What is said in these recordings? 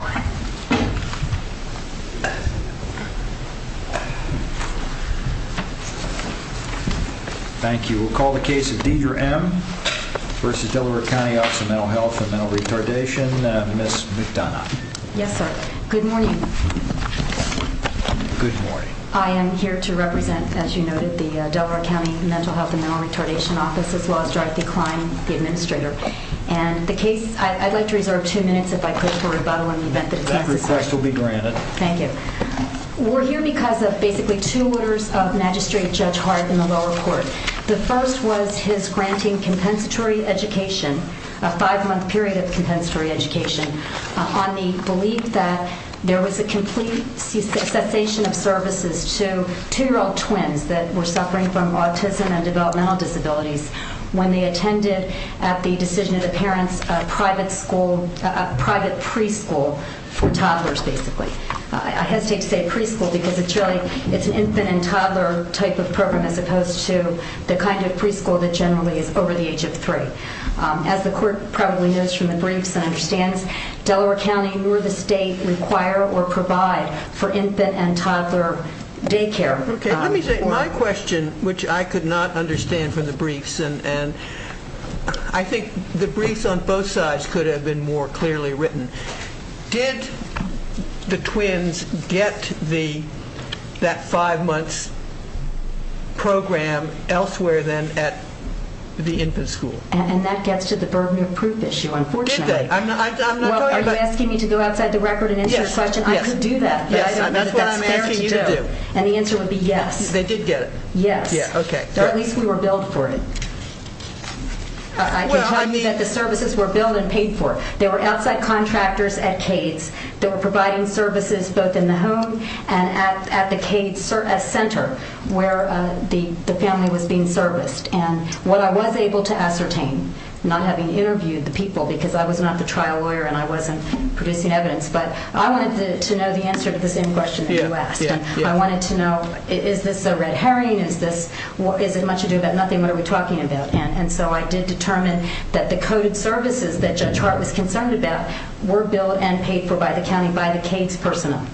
and Mental Retardation, Ms. McDonough. Yes, sir. Good morning. Good morning. I am here to represent, as you noted, the Delaware County Mental Health and Mental Retardation Office, as well as Dr. Klein, the administrator. And the case, I'd like to reserve two minutes if I could, for rebuttal in the event that it's necessary. That request will be granted. Thank you. We're here because of basically two orders of Magistrate Judge Hart in the lower court. The first was his granting compensatory education, a five-month period of compensatory education, on the belief that there was a complete cessation of services to two-year-old twins that were suffering from autism and developmental disabilities when they attended at the decision of the parents, a private school, a private preschool for toddlers, basically. I hesitate to say preschool because it's really, it's an infant and toddler type of program as opposed to the kind of preschool that generally is over the age of three. As the court probably knows from the briefs and understands, Delaware County nor the state require or provide for infant and toddler daycare. Okay, let me say my question, which I could not I think the briefs on both sides could have been more clearly written. Did the twins get that five months program elsewhere than at the infant school? And that gets to the burden of proof issue, unfortunately. Did they? I'm not talking about... Are you asking me to go outside the record and answer your question? I could do that. Yes, that's what I'm asking you to do. And the answer would be yes. They did get it? Yes. Yeah, okay. At least we were billed for it. I can tell you that the services were billed and paid for. There were outside contractors at Cades that were providing services both in the home and at the Cades center where the family was being serviced. And what I was able to ascertain, not having interviewed the people because I was not the trial lawyer and I wasn't producing evidence, but I wanted to know the answer to the same question that you asked. I wanted to know, is this a red herring? Is it much the coded services that Judge Hart was concerned about were billed and paid for by the county, by the Cades personnel?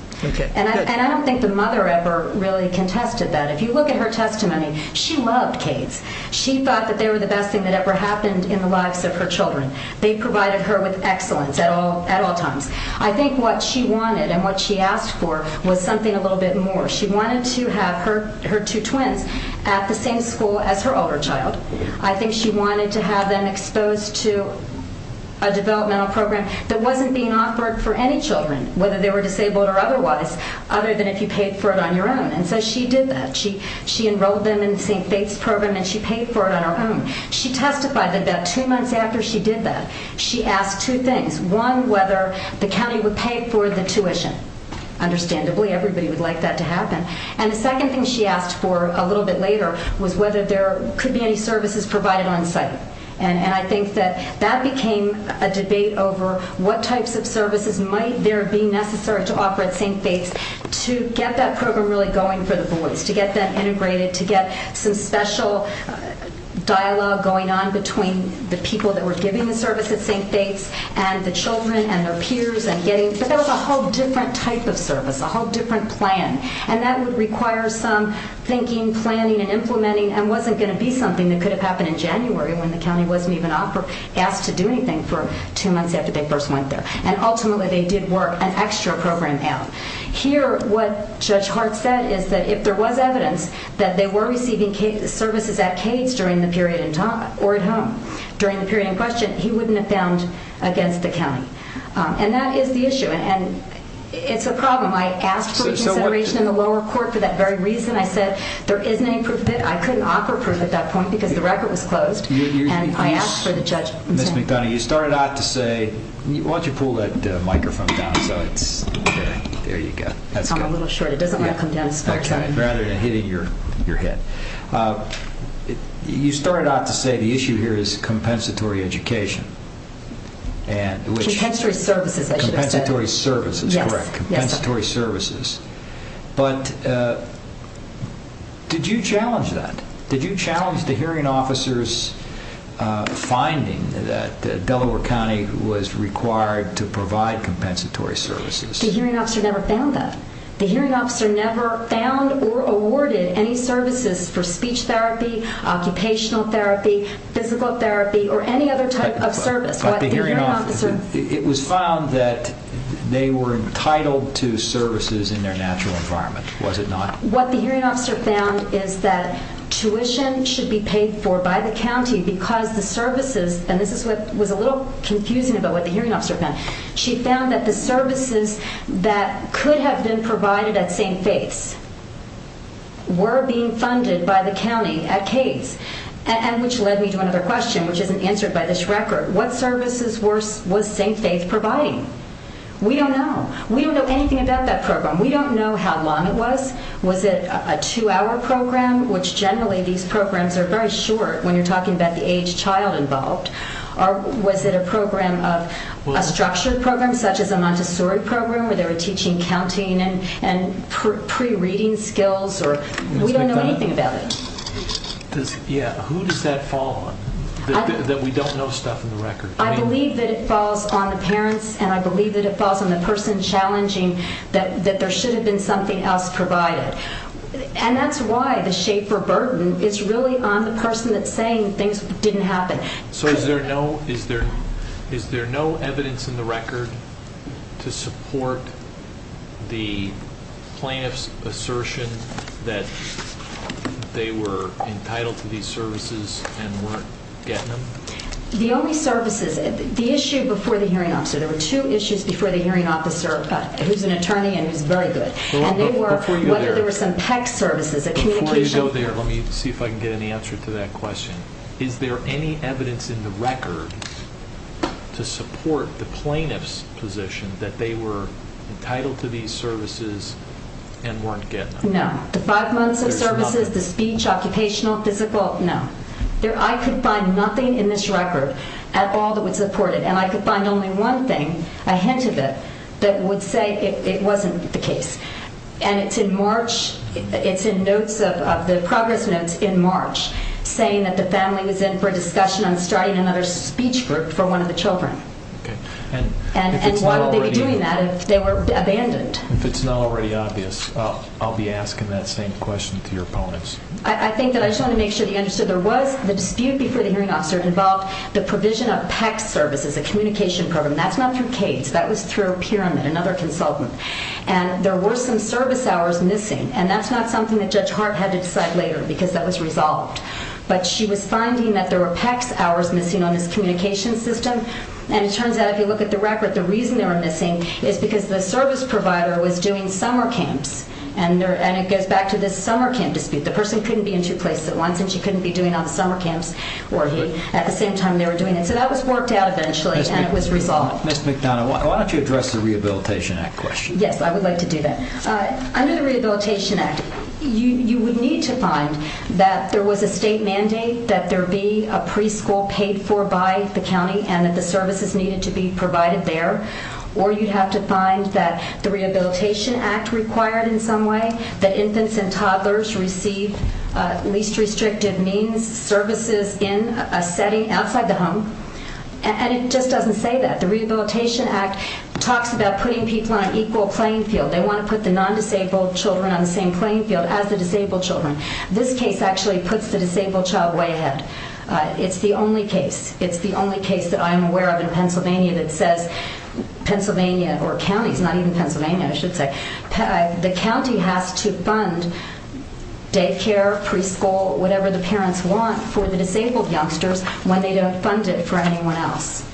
And I don't think the mother ever really contested that. If you look at her testimony, she loved Cades. She thought that they were the best thing that ever happened in the lives of her children. They provided her with excellence at all times. I think what she wanted and what she asked for was something a little bit more. She wanted to have her two twins at the same school as her older child. I think she wanted to have them exposed to a developmental program that wasn't being offered for any children, whether they were disabled or otherwise, other than if you paid for it on your own. And so she did that. She enrolled them in St. Faith's program and she paid for it on her own. She testified that about two months after she did that, she asked two things. One, whether the county would pay for the tuition. Understandably, everybody would like that to happen. And the second thing she asked for a little bit later was whether there could be any services provided on site. And I think that that became a debate over what types of services might there be necessary to offer at St. Faith's to get that program really going for the boys, to get them integrated, to get some special dialogue going on between the people that were giving the service at St. Faith's and the children and their peers but that was a whole different type of service, a whole different plan. And that would require some thinking, planning and implementing and wasn't going to be something that could have happened in January when the county wasn't even asked to do anything for two months after they first went there. And ultimately they did work an extra program out. Here, what Judge Hart said is that if there was evidence that they were receiving services at Cades during the period in time or and it's a problem. I asked for consideration in the lower court for that very reason. I said there isn't any proof. I couldn't offer proof at that point because the record was closed and I asked for the judge. Ms. McDonough, you started out to say, why don't you pull that microphone down so it's, okay, there you go. I'm a little short. It doesn't want to come down as far as I can. Rather than hitting your head. You started out to say the issue here is compensatory education and compensatory services. But did you challenge that? Did you challenge the hearing officers finding that Delaware County was required to provide compensatory services? The hearing officer never found that. The hearing officer never found or awarded any services for the hearing officer. It was found that they were entitled to services in their natural environment, was it not? What the hearing officer found is that tuition should be paid for by the county because the services, and this is what was a little confusing about what the hearing officer found. She found that the services that could have been provided at St. Faith's were being What services was St. Faith's providing? We don't know. We don't know anything about that program. We don't know how long it was. Was it a two-hour program, which generally these programs are very short when you're talking about the age child involved, or was it a program of a structured program such as a Montessori program where they were teaching counting and pre-reading skills? We don't know anything about it. Who does that fall on, that we don't know stuff in the record? I believe that it falls on the parents, and I believe that it falls on the person challenging that there should have been something else provided. And that's why the Schaefer burden is really on the person that's saying things didn't happen. So is there no evidence in the that they were entitled to these services and weren't getting them? The only services, the issue before the hearing officer, there were two issues before the hearing officer who's an attorney and who's very good, and they were whether there were some PEC services. Before you go there, let me see if I can get any answer to that question. Is there any evidence in the record to support the plaintiff's position that they were entitled to these services and weren't getting them? No. The five months of services, the speech, occupational, physical, no. I could find nothing in this record at all that would support it, and I could find only one thing, a hint of it, that would say it wasn't the case. And it's in March, it's in notes of the progress notes in March, saying that the family was in for a discussion on starting another speech group for one of the children. And why would they be doing that if they were abandoned? If it's not already obvious, I'll be asking that same question to your opponents. I think that I just want to make sure that you understood there was the dispute before the hearing officer involved the provision of PEC services, a communication program. That's not through Cades, that was through Pyramid, another consultant. And there were some service hours missing, and that's not something that Judge Hart had to decide later because that was resolved. But she was finding that there were PEC hours missing on this communication system, and it turns out if you look at the record, the reason they were missing is because the service provider was doing summer camps, and it goes back to this summer camp dispute. The person couldn't be in two places at once, and she couldn't be doing it on the summer camps, or he, at the same time they were doing it. So that was worked out eventually, and it was resolved. Ms. McDonough, why don't you address the Rehabilitation Act question? Yes, I would like to do that. Under the Rehabilitation Act, you would need to find that there was a state mandate that there be a preschool paid for by the county, and that the Rehabilitation Act required in some way that infants and toddlers receive least restrictive means services in a setting outside the home. And it just doesn't say that. The Rehabilitation Act talks about putting people on an equal playing field. They want to put the non-disabled children on the same playing field as the disabled children. This case actually puts the disabled child way ahead. It's the only case, it's the only case that I'm aware of in Pennsylvania that says Pennsylvania, or counties, not even Pennsylvania, I should say, the county has to fund daycare, preschool, whatever the parents want for the disabled youngsters when they don't fund it for anyone else.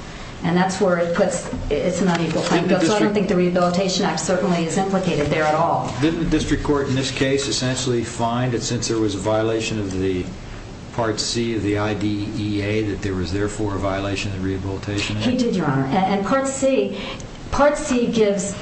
And that's where it puts it's an unequal playing field. So I don't think the Rehabilitation Act certainly is implicated there at all. Didn't the district court in this case essentially find that since there was a violation of the Part C of the IDEA that there was therefore a violation of the Rehabilitation Act? He did, Your Honor. And Part C, Part C gives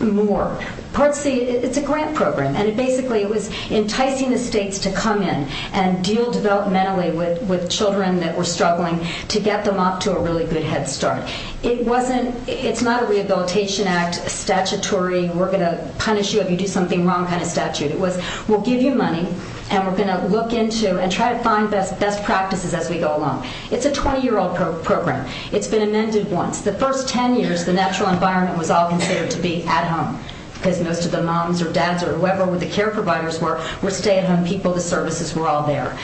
more. Part C, it's a grant program. And basically it was enticing the states to come in and deal developmentally with children that were struggling to get them off to a really good head start. It wasn't, it's not a Rehabilitation Act statutory, we're going to punish you if you do something wrong kind of statute. It was, we'll give you money and we're going to look into and try to find best practices as we go along. It's a 20-year-old program. It's been amended once. The first 10 years, the natural environment was all considered to be at home because most of the moms or dads or whoever the care providers were, were stay-at-home people. The services were all there.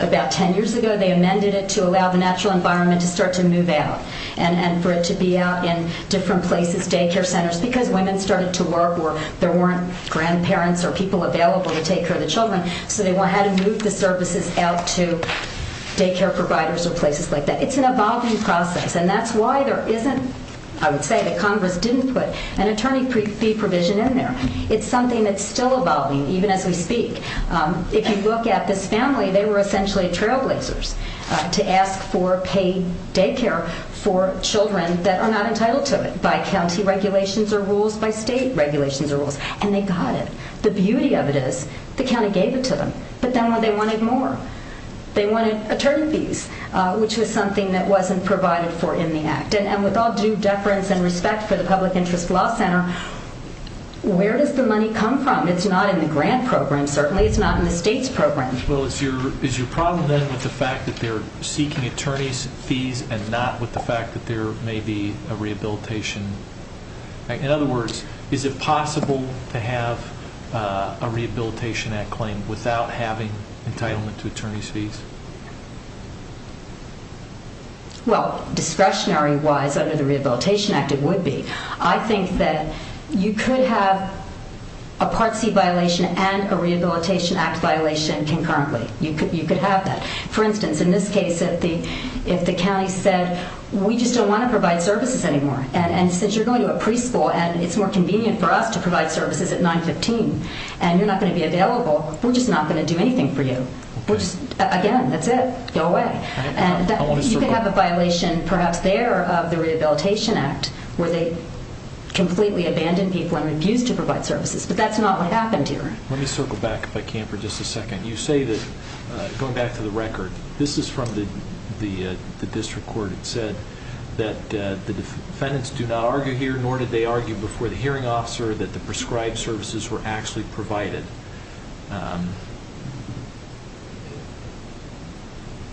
About 10 years ago, they amended it to allow the natural environment to start to move out and for it to be out in different places, daycare centers, because women started to work or there weren't grandparents or people available to take care of the children, so they had to move the services out to daycare providers or places like that. It's an evolving process and that's why there isn't, I would say that Congress didn't put an attorney fee provision in there. It's something that's still evolving even as we speak. If you look at this family, they were essentially trailblazers to ask for paid daycare for children that are not entitled to it by county regulations or rules, by state regulations or rules, and they got it. The beauty of it is the county gave it to them, but then what they wanted more. They wanted attorney fees, which was something that wasn't provided for in the act, and with all due deference and respect for the Public Interest Law Center, where does the money come from? It's not in the grant program, certainly. It's not in the state's program. Well, is your problem then with the fact that they're seeking attorney's fees and not with the fact that there may be a rehabilitation? In other words, is it possible to have a Rehabilitation Act claim without having entitlement to attorney's fees? Well, discretionary-wise, under the Rehabilitation Act, it would be. I think that you could have a Part C violation and a Rehabilitation Act violation concurrently. You could have that. For instance, in this case, if the county said, we just don't want to provide services anymore, and since you're going to a preschool and it's more convenient for us to provide services at 915, and you're not going to be available, we're just not going to do anything for you. Again, that's it. Go away. You could have a violation, perhaps, there of the Rehabilitation Act, where they completely abandon people and refuse to provide services, but that's not what happened here. Let me circle back, if I can, for just a second. You say that, going back to the record, this is from the district court. It said that the defendants do not argue here, nor did they argue before the hearing officer, that the prescribed services were actually provided.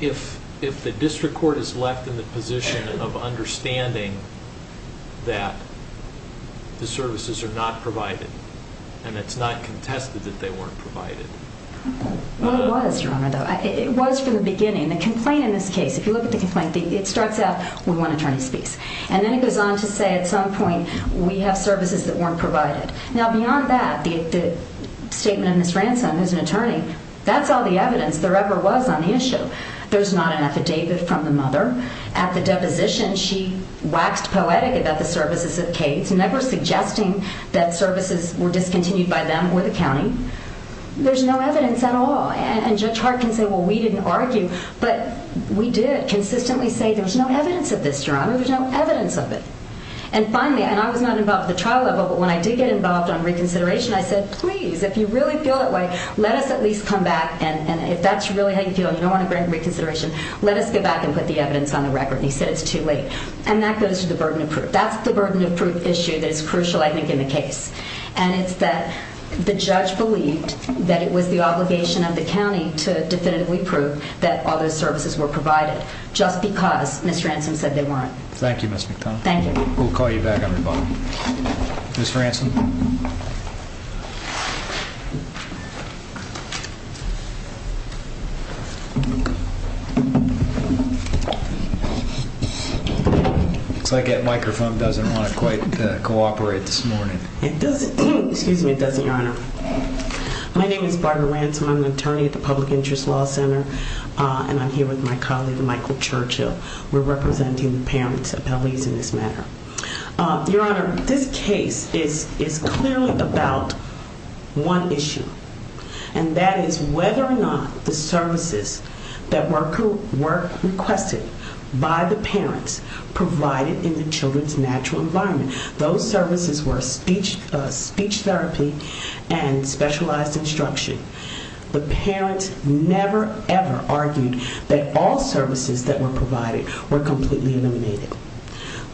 If the district court is left in the position of understanding that the services are not provided, and it's not contested that they weren't provided. Well, it was, Your Honor, though. It was from the beginning. The complaint in this case, if you look at the complaint, it starts out, we want attorney's fees, and then it goes on to say, at some point, we have services that were provided. Now, beyond that, the statement of Ms. Ransom, who's an attorney, that's all the evidence there ever was on the issue. There's not an affidavit from the mother. At the deposition, she waxed poetic about the services of Cades, never suggesting that services were discontinued by them or the county. There's no evidence at all. And Judge Hart can say, well, we didn't argue, but we did consistently say, there's no evidence of this, Your Honor. There's no evidence of it. And finally, and I was not involved at the trial level, but when I did get involved on reconsideration, I said, please, if you really feel that way, let us at least come back. And if that's really how you feel, you don't want to bring reconsideration, let us go back and put the evidence on the record. And he said, it's too late. And that goes to the burden of proof. That's the burden of proof issue that is crucial, I think, in the case. And it's that the judge believed that it was the obligation of the county to definitively prove that all those services were provided just because Ms. Ransom said they weren't. Thank you, Ms. McDonough. We'll call you back, everybody. Ms. Ransom. Looks like that microphone doesn't want to quite cooperate this morning. It doesn't, excuse me, it doesn't, Your Honor. My name is Barbara Ransom. I'm an attorney for my colleague, Michael Churchill. We're representing the parents of L.E.'s in this matter. Your Honor, this case is clearly about one issue, and that is whether or not the services that were requested by the parents provided in the children's natural environment, those services were speech therapy and specialized instruction. The parents never, ever argued that all services that were provided were completely eliminated.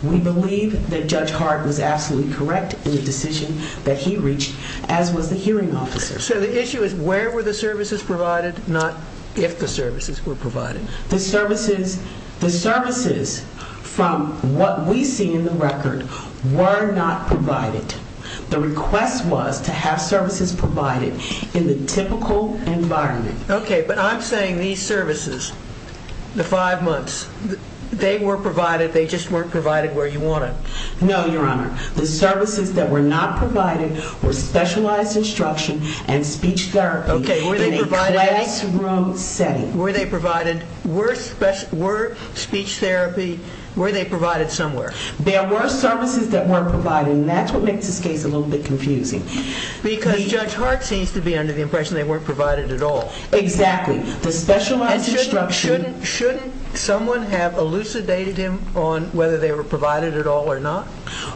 We believe that Judge Hart was absolutely correct in the decision that he reached, as was the hearing officer. So the issue is where were the services provided, not if the services were provided. The services, the services from what we see in the record were not provided. The request was to have these services, the five months, they were provided, they just weren't provided where you want them. No, Your Honor. The services that were not provided were specialized instruction and speech therapy in a classroom setting. Were they provided, were speech therapy, were they provided somewhere? There were services that were provided, and that's what makes this case a little bit confusing. Because Judge Hart seems to be under the impression they weren't provided at all. Exactly. The specialized instruction. And shouldn't, shouldn't someone have elucidated him on whether they were provided at all or not?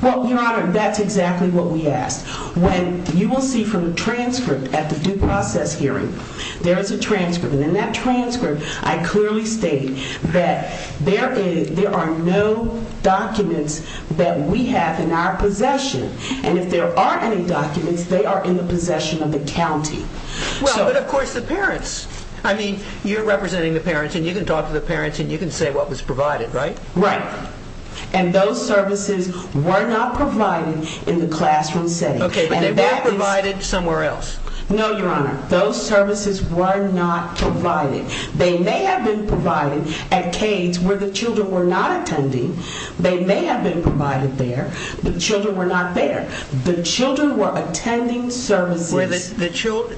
Well, Your Honor, that's exactly what we asked. When you will see from the transcript at the due process hearing, there is a transcript. And in that transcript, I clearly stated that there is, there are no documents that we have in our possession. And if there are any documents, they are in the possession of the county. Well, but of course the parents, I mean, you're representing the parents and you can talk to the parents and you can say what was provided, right? Right. And those services were not provided in the classroom setting. Okay, but they were provided somewhere else. No, Your Honor. Those services were not provided. They may have been provided at Cades where the children were not attending. They may have been provided there. The children were not there. The children were attending services.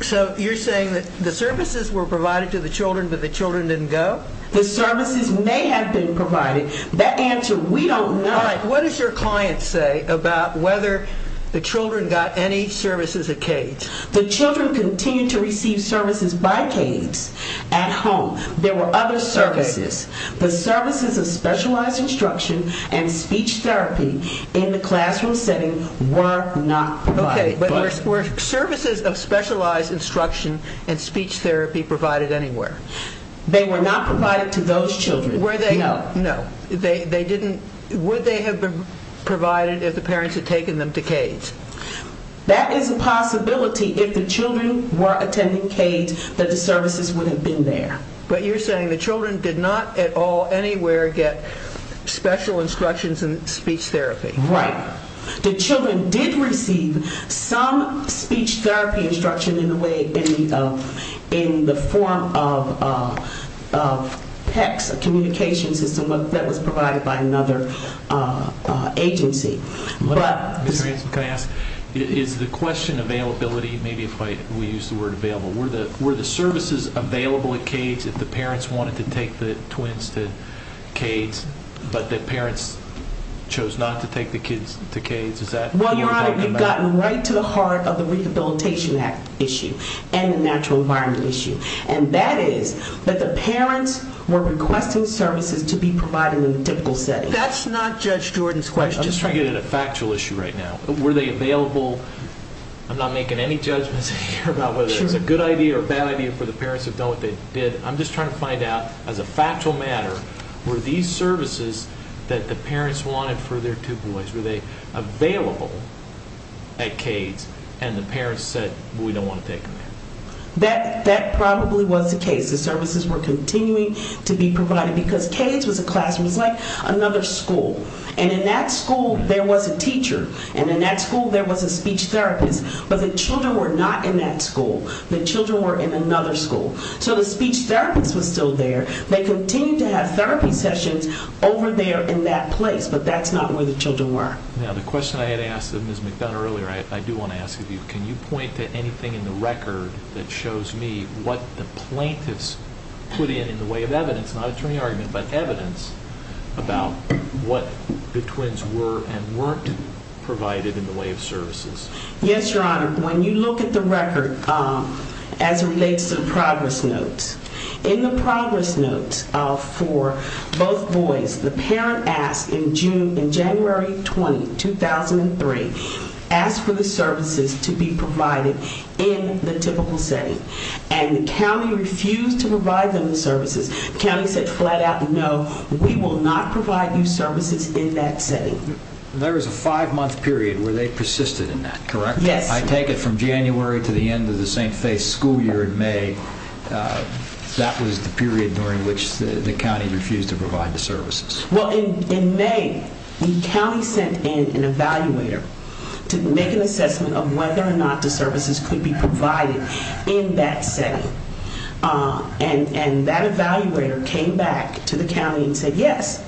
So you're saying that the services were provided to the children, but the children didn't go? The services may have been provided. The answer, we don't know. All right, what does your client say about whether the children got any services at Cades? The children continued to receive services by Cades at home. There were other services. The services of specialized instruction and speech therapy in the classroom setting were not provided. Okay, but were services of specialized instruction and speech therapy provided anywhere? They were not provided to those children. Were they? No. No. They didn't, would they have been provided if the parents had taken them to Cades? That is a possibility if the children were attending Cades that the services would have been there. But you're saying the children did not at all, anywhere get special instructions and speech therapy? Right. The children did receive some speech therapy instruction in the form of PECS, a communication system that was provided by another agency. Is the question availability, maybe if we use the word available, were the services available at Cades if the parents wanted to take the twins to Cades, but the parents chose not to take the kids to Cades? Is that what you're talking about? Well, your honor, we've gotten right to the heart of the Rehabilitation Act issue and the natural environment issue, and that is that the parents were requesting services to be provided in a typical setting. That's not Judge Jordan's question. I'm just trying to get at a factual issue right now. Were they available? I'm not making any judgments here about whether it was a good idea or a bad idea for the parents to have done what they did. I'm just trying to find out, as a factual matter, were these services that the parents wanted for their two boys, were they available at Cades and the parents said we don't want to take them there? That probably was the case. The services were continuing to be provided because Cades was a classroom. It was like another school, and in that school there was a teacher, and in that school there was a speech therapist, but the children were not in that school. The children were in another school, so the speech therapist was still there. They continued to have therapy sessions over there in that place, but that's not where the children were. Now, the question I had asked of Ms. McDonough earlier, I do want to ask of you, can you point to anything in the record that shows me what the plaintiffs put in in the way of evidence, not attorney argument, but evidence about what the twins were and weren't provided in the way of services? Yes, your honor. When you look at the record, as it relates to the progress notes, in the progress notes for both boys, the parent asked in January 20, 2003, asked for the services to be provided in the typical setting, and the county refused to provide them the services. The county said flat out no, we will not provide you services in that setting. There was a five-month period where they persisted in that, correct? Yes. I take it from January to the end of the St. Faith's school year in May, that was the period during which the county refused to provide the services. Well, in May, the county sent in an evaluator to make an assessment of whether or not the services could be provided in that setting, and that evaluator came back to the county and said yes,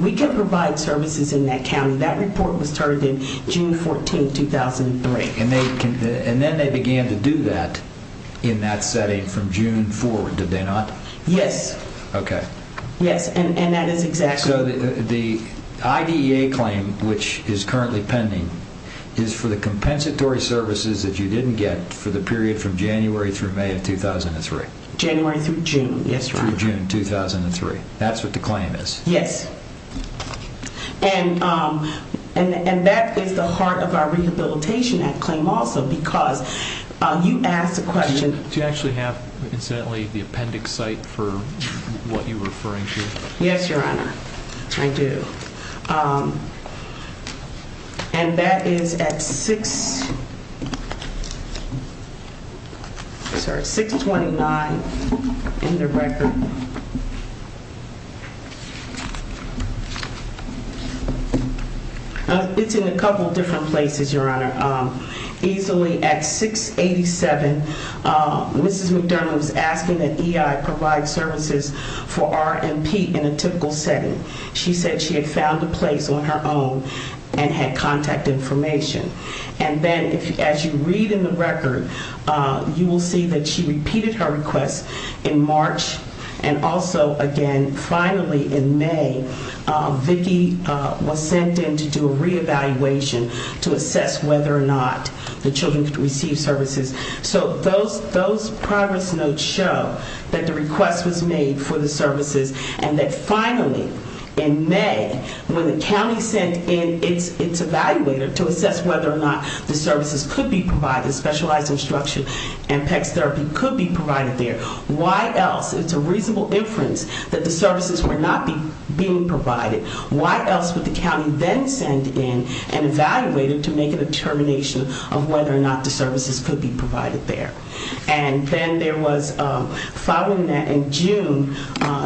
we can provide services in that county. That report was started in June 14, 2003. And then they began to do that in that setting from June forward, did they not? Yes. Okay. Yes, and that is exactly... So the IDEA claim, which is currently pending, is for the compensatory services that you didn't get for the period from January through May 2003. January through June, yes. Through June 2003, that's what the claim is. Yes. And that is the heart of our Rehabilitation Act claim also, because you asked a question... Do you actually have, incidentally, the appendix site for what you were referring to? Yes, Your Honor, I do. And that is at 6... Sorry, 629 in the record. It's in a couple different places, Your Honor. Easily at 687, Mrs. McDermott was asking that she said she had found a place on her own and had contact information. And then as you read in the record, you will see that she repeated her request in March. And also, again, finally in May, Vicki was sent in to do a re-evaluation to assess whether or not the children could receive services. So those progress notes show that the request was made for the services and that finally, in May, when the county sent in its evaluator to assess whether or not the services could be provided, specialized instruction and PECS therapy could be provided there, why else, it's a reasonable inference that the services were not being provided, why else would the county then send in an evaluator to make a determination of whether or not the services could be provided there. And then there was, following that, in June,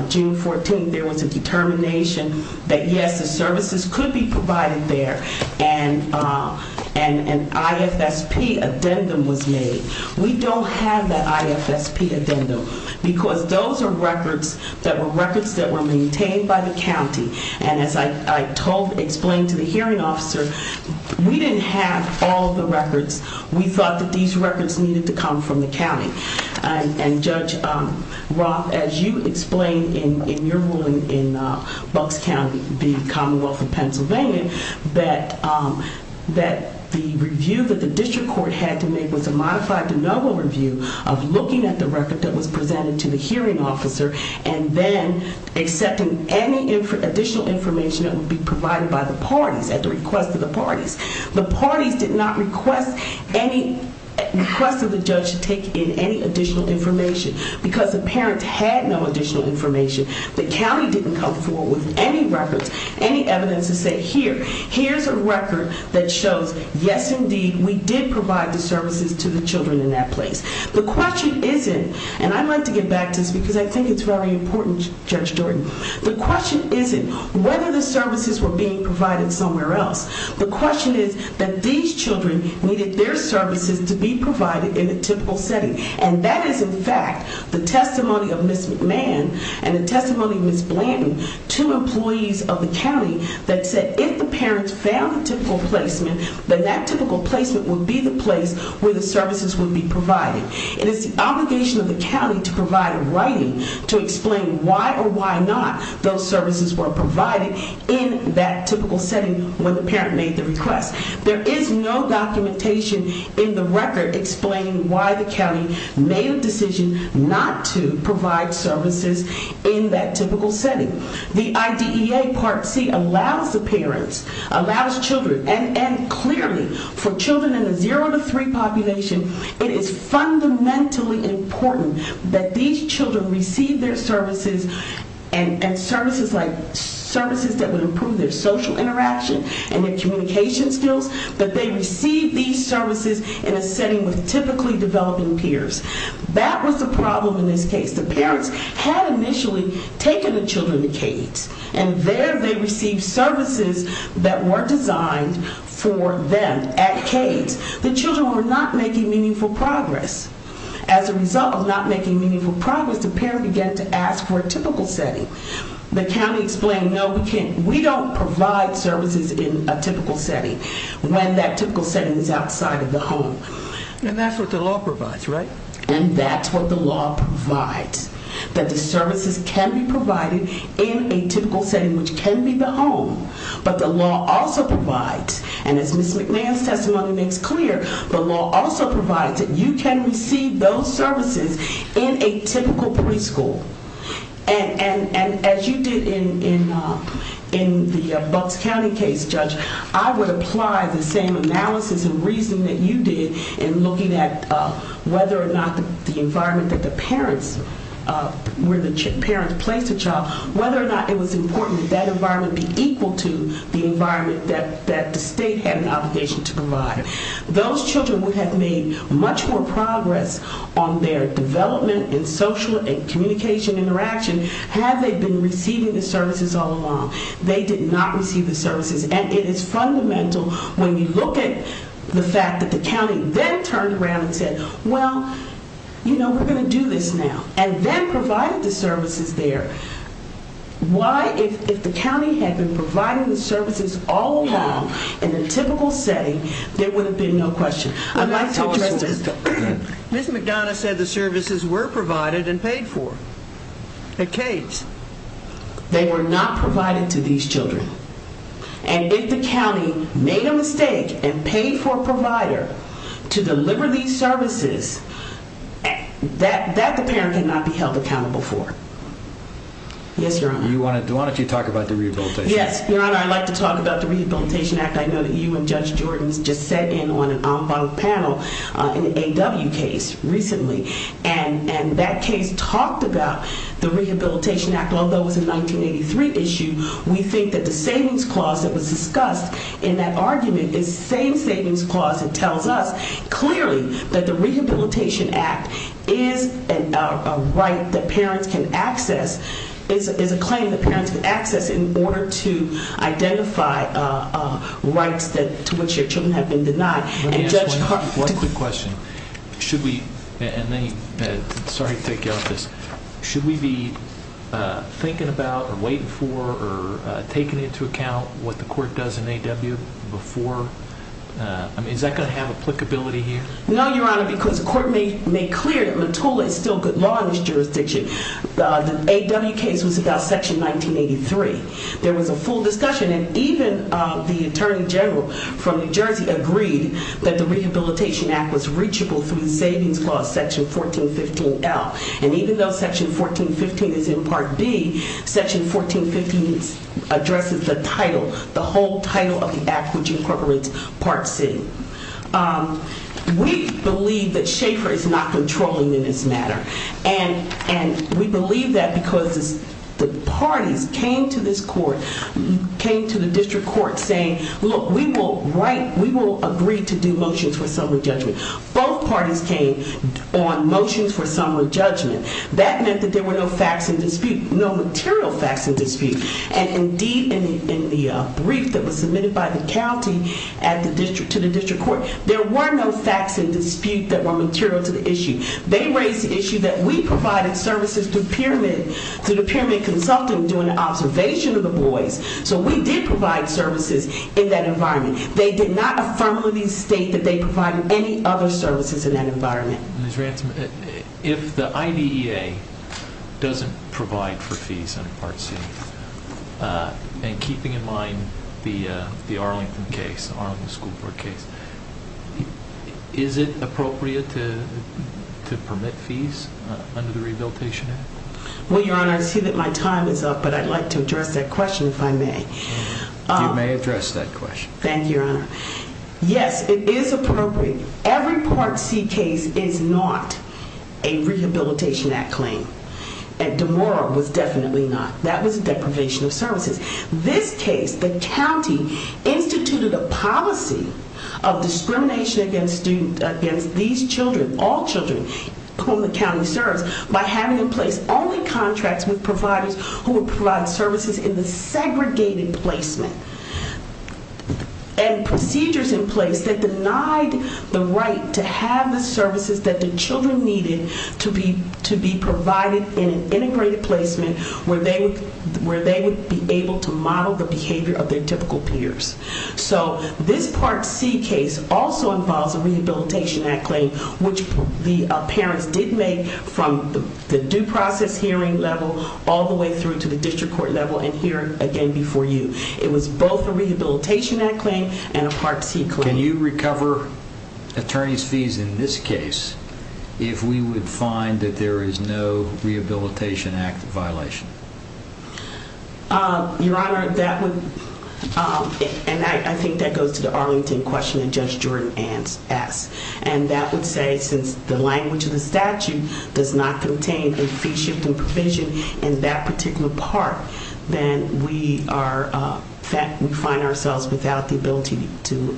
June 14, there was a determination that yes, the services could be provided there. And an IFSP addendum was made. We don't have that IFSP addendum because those are records that were records that were maintained by the county. And as I told, explained to the hearing officer, we didn't have all the records. We thought that these records needed to come from the county. And Judge Roth, as you explained in your ruling in Bucks County, the Commonwealth of Pennsylvania, that the review that the district court had to make was a modified de novo review of looking at the record that was presented to the hearing officer and then accepting any additional information that would be provided by the parties at the request of the parties. The parties did not request any request of the judge to take in any additional information because the parents had no additional information. The county didn't come forward with any records, any evidence to say, here, here's a record that shows, yes, indeed, we did provide the services to the children in that place. The question isn't, and I'd like to get back to this because I think it's very important, Judge Jordan. The question isn't whether the services were being provided somewhere else. The question is that these children needed their services to be provided in a typical setting. And that is, in fact, the testimony of Ms. McMahon and the testimony of Ms. Blandon, two employees of the county that said if the parents found a typical placement, then that typical placement would be the place where the services would be provided. It is the obligation of the county to provide a writing to explain why or why not those services were provided in that typical setting when the parent made the request. There is no documentation in the record explaining why the county made a decision not to provide services in that typical setting. The IDEA Part C allows the parents, allows children, and clearly, for children in a zero to three population, it is fundamentally important that these children receive their services and services like services that would improve their social interaction and their communication skills, that they receive these services in a setting with typically developing peers. That was the problem in this case. The children were not making meaningful progress. As a result of not making meaningful progress, the parent began to ask for a typical setting. The county explained, no, we can't, we don't provide services in a typical setting when that typical setting is outside of the home. And that's what the law provides, right? And that's what the law provides, that the services can be provided in a typical setting, which can be the home, but the law also provides, and as Ms. McMahon's testimony makes clear, the law also provides that you can receive those services in a typical preschool. And as you did in the Bucks County case, Judge, I would apply the same analysis and reasoning that you did in looking at whether or not the environment that the parents, where the parents placed the child, whether or not it was important that that environment be equal to the environment that the state had an obligation to provide. Those children would have made much more progress on their development in social and communication interaction had they been receiving the services all along. They did not receive the services, and it is fundamental when you look at the fact that the county then turned around and said, well, you know, we're going to do this now, and then provided the services there. Why, if the county had been providing the services all along in the typical setting, there would have been no question. I'd like to address this. Ms. McDonough said the services were provided and paid for. At Kades, they were not provided to these children. And if the county made a mistake and paid for a provider to deliver these services, that the parent cannot be held accountable for. Yes, Your Honor. Do you want to talk about the Rehabilitation Act? Yes, Your Honor, I'd like to talk about the Rehabilitation Act. I know that you and Judge Jordan just sat in on an en banc panel, an A.W. case recently, and that case talked about the Rehabilitation Act. Although it was a 1983 issue, we think that the savings clause that was discussed in that argument is the same savings clause that tells us clearly that the Rehabilitation Act is a right that parents can access, is a claim that parents can access in order to identify rights to which their children have been denied. Let me ask one quick question. Should we, and sorry to take you off this, should we be thinking about or waiting for or taking into account what the court does in A.W. before? I mean, is that going to have applicability here? No, Your Honor, because the court made clear that Mottola is still good law in this jurisdiction. The A.W. case was about Section 1983. There was a full discussion and even the Attorney General from New Jersey agreed that the Rehabilitation Act was reachable through the 1450s addresses the title, the whole title of the act which incorporates Part C. We believe that Schaefer is not controlling in this matter, and we believe that because the parties came to this court, came to the district court saying, look, we will write, we will agree to do motions for summary judgment. Both parties came on motions for summary judgment. That meant that there were no facts in dispute, no material facts in dispute. And indeed, in the brief that was submitted by the county to the district court, there were no facts in dispute that were material to the issue. They raised the issue that we provided services to Pyramid Consulting doing an observation of the boys. So we did provide services in that environment. They did not affirmably state that they provided any other services in that environment. Ms. Ransom, if the IDEA doesn't provide for fees under Part C, and keeping in mind the Arlington case, Arlington School Board case, is it appropriate to permit fees under the Rehabilitation Act? Well, Your Honor, I see that my time is up, but I'd like to address that question if I may. You may address that question. Thank you, Your Honor. Yes, it is appropriate. Every Part C case is not a Rehabilitation Act claim, and DeMora was definitely not. That was a deprivation of services. This case, the county instituted a policy of discrimination against these children, all children whom the county serves, by having in place only contracts with providers who would provide services in the and procedures in place that denied the right to have the services that the children needed to be to be provided in an integrated placement where they would be able to model the behavior of their typical peers. So this Part C case also involves a Rehabilitation Act claim, which the parents did make from the due process hearing level all the way through to the district court level and here again before you. It was both a Rehabilitation Act claim and a Part C claim. Can you recover attorney's fees in this case if we would find that there is no Rehabilitation Act violation? Your Honor, that would, and I think that goes to the Arlington question that Judge Jordan asked, and that would say since the language of the statute does not contain a fee and provision in that particular part, then we find ourselves without the ability to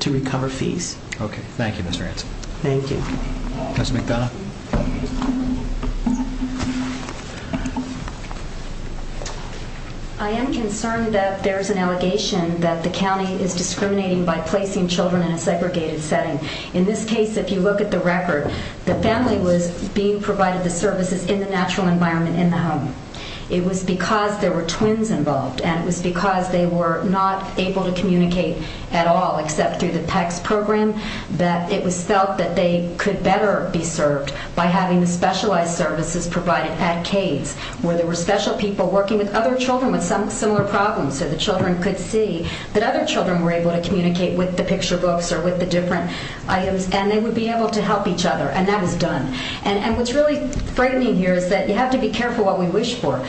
to recover fees. Okay, thank you, Ms. Ransom. Thank you. Judge McDonough. I am concerned that there's an allegation that the county is discriminating by placing children in a segregated setting. In this case, if you look at the record, the family was being provided the services in the natural environment in the home. It was because there were twins involved, and it was because they were not able to communicate at all except through the PECS program that it was felt that they could better be served by having the specialized services provided at Cades, where there were special people working with other children with some similar problems so the children could see that other children were able to communicate with the picture books or with the different items, and they would be able to help each other, and that was done. And what's really frightening here is that you have to be careful what we wish for.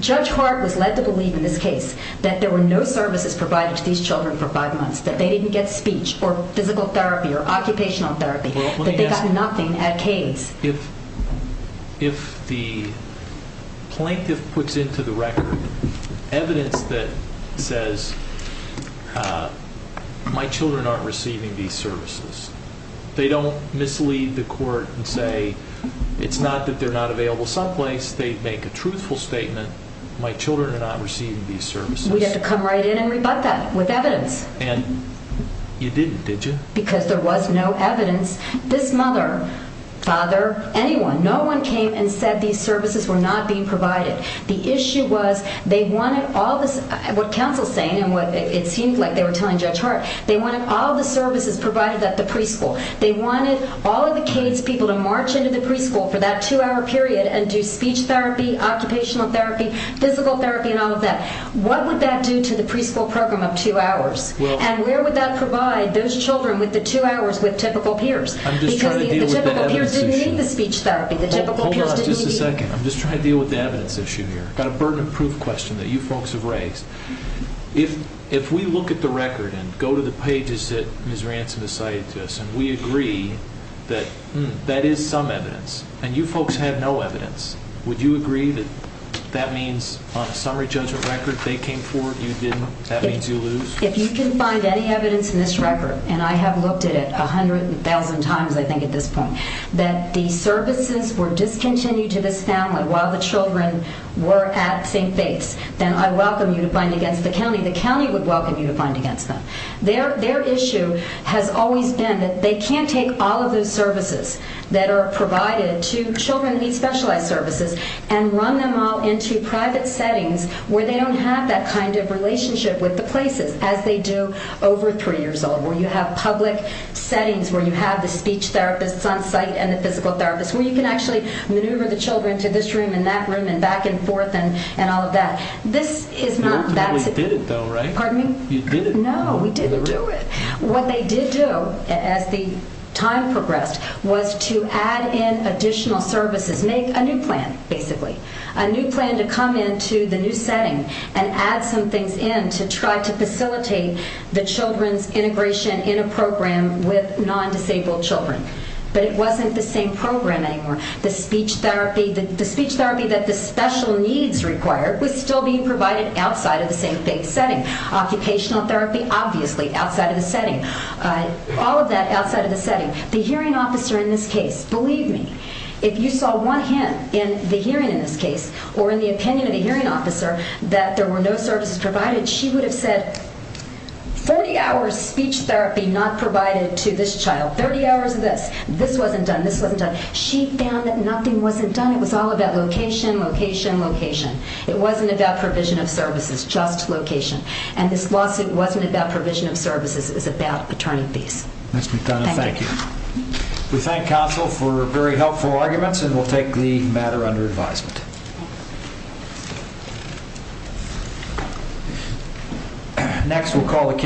Judge Hart was led to believe in this case that there were no services provided to these children for five months, that they didn't get speech or physical therapy or occupational therapy, that they got nothing at Cades. If the plaintiff puts into the record evidence that says my children aren't receiving these services, they don't mislead the court and say it's not that they're not available someplace, they make a truthful statement, my children are not receiving these services. We'd have to come right in and rebut that with evidence. And you didn't, did you? Because there was no evidence. This mother, father, anyone, no one came and said these services were not being provided. The issue was they wanted all the services provided at the preschool. They wanted all of the Cades people to march into the preschool for that two-hour period and do speech therapy, occupational therapy, physical therapy, and all of that. What would that do to the preschool program of two hours? And where would that provide those children with the two hours with typical peers? Because the typical peers didn't need the speech therapy. Hold on just a second. I'm just trying to deal with the evidence issue here. I've got a burden of proof question that you folks have raised. If we look at the record and go to the pages that Ms. Ransom has cited to us and we agree that that is some evidence and you folks have no evidence, would you agree that that means on a summary judgment record they came forward, you didn't, that means you lose? If you can find any evidence in this record, and I have looked at it a hundred and thousand times I think at this point, that the services were discontinued to this family while the children were at St. Bates, then I welcome you to find against the county. The county would welcome you to find against them. Their issue has always been that they can't take all of those services that are provided to children who need specialized services and run them all into private settings where they don't have that kind of relationship with the places, as they do over three years old, where you have public settings, where you have the speech therapists on site and the physical therapists, where you can actually maneuver the children to this room and that room and back and forth and all of that. This is not that. But you did it though, right? Pardon me? You did it. No, we didn't do it. What they did do as the time progressed was to add in additional services, make a new plan, basically, a new plan to come into the new setting and add some things in to try to facilitate the children's integration in a program with non-disabled children. But it wasn't the same program anymore. The speech therapy, the speech therapy that the special needs required was still being provided outside of the St. Bates setting. Occupational therapy, obviously, outside of the setting. All of that outside of the setting. The hearing officer in this case, believe me, if you saw one hint in the hearing in this case, or in the opinion of the hearing officer, that there were no services provided, she would have said, 40 hours speech therapy not provided to this child, 30 hours of this, this wasn't done, this wasn't done. She found that nothing wasn't done. It was all about location, location, location. It wasn't about provision of services, just location. And this lawsuit wasn't about provision of services, it was about attorney fees. Nice to meet you, Donna. Thank you. We thank counsel for very helpful arguments and we'll take the matter under advisement. Next we'll call the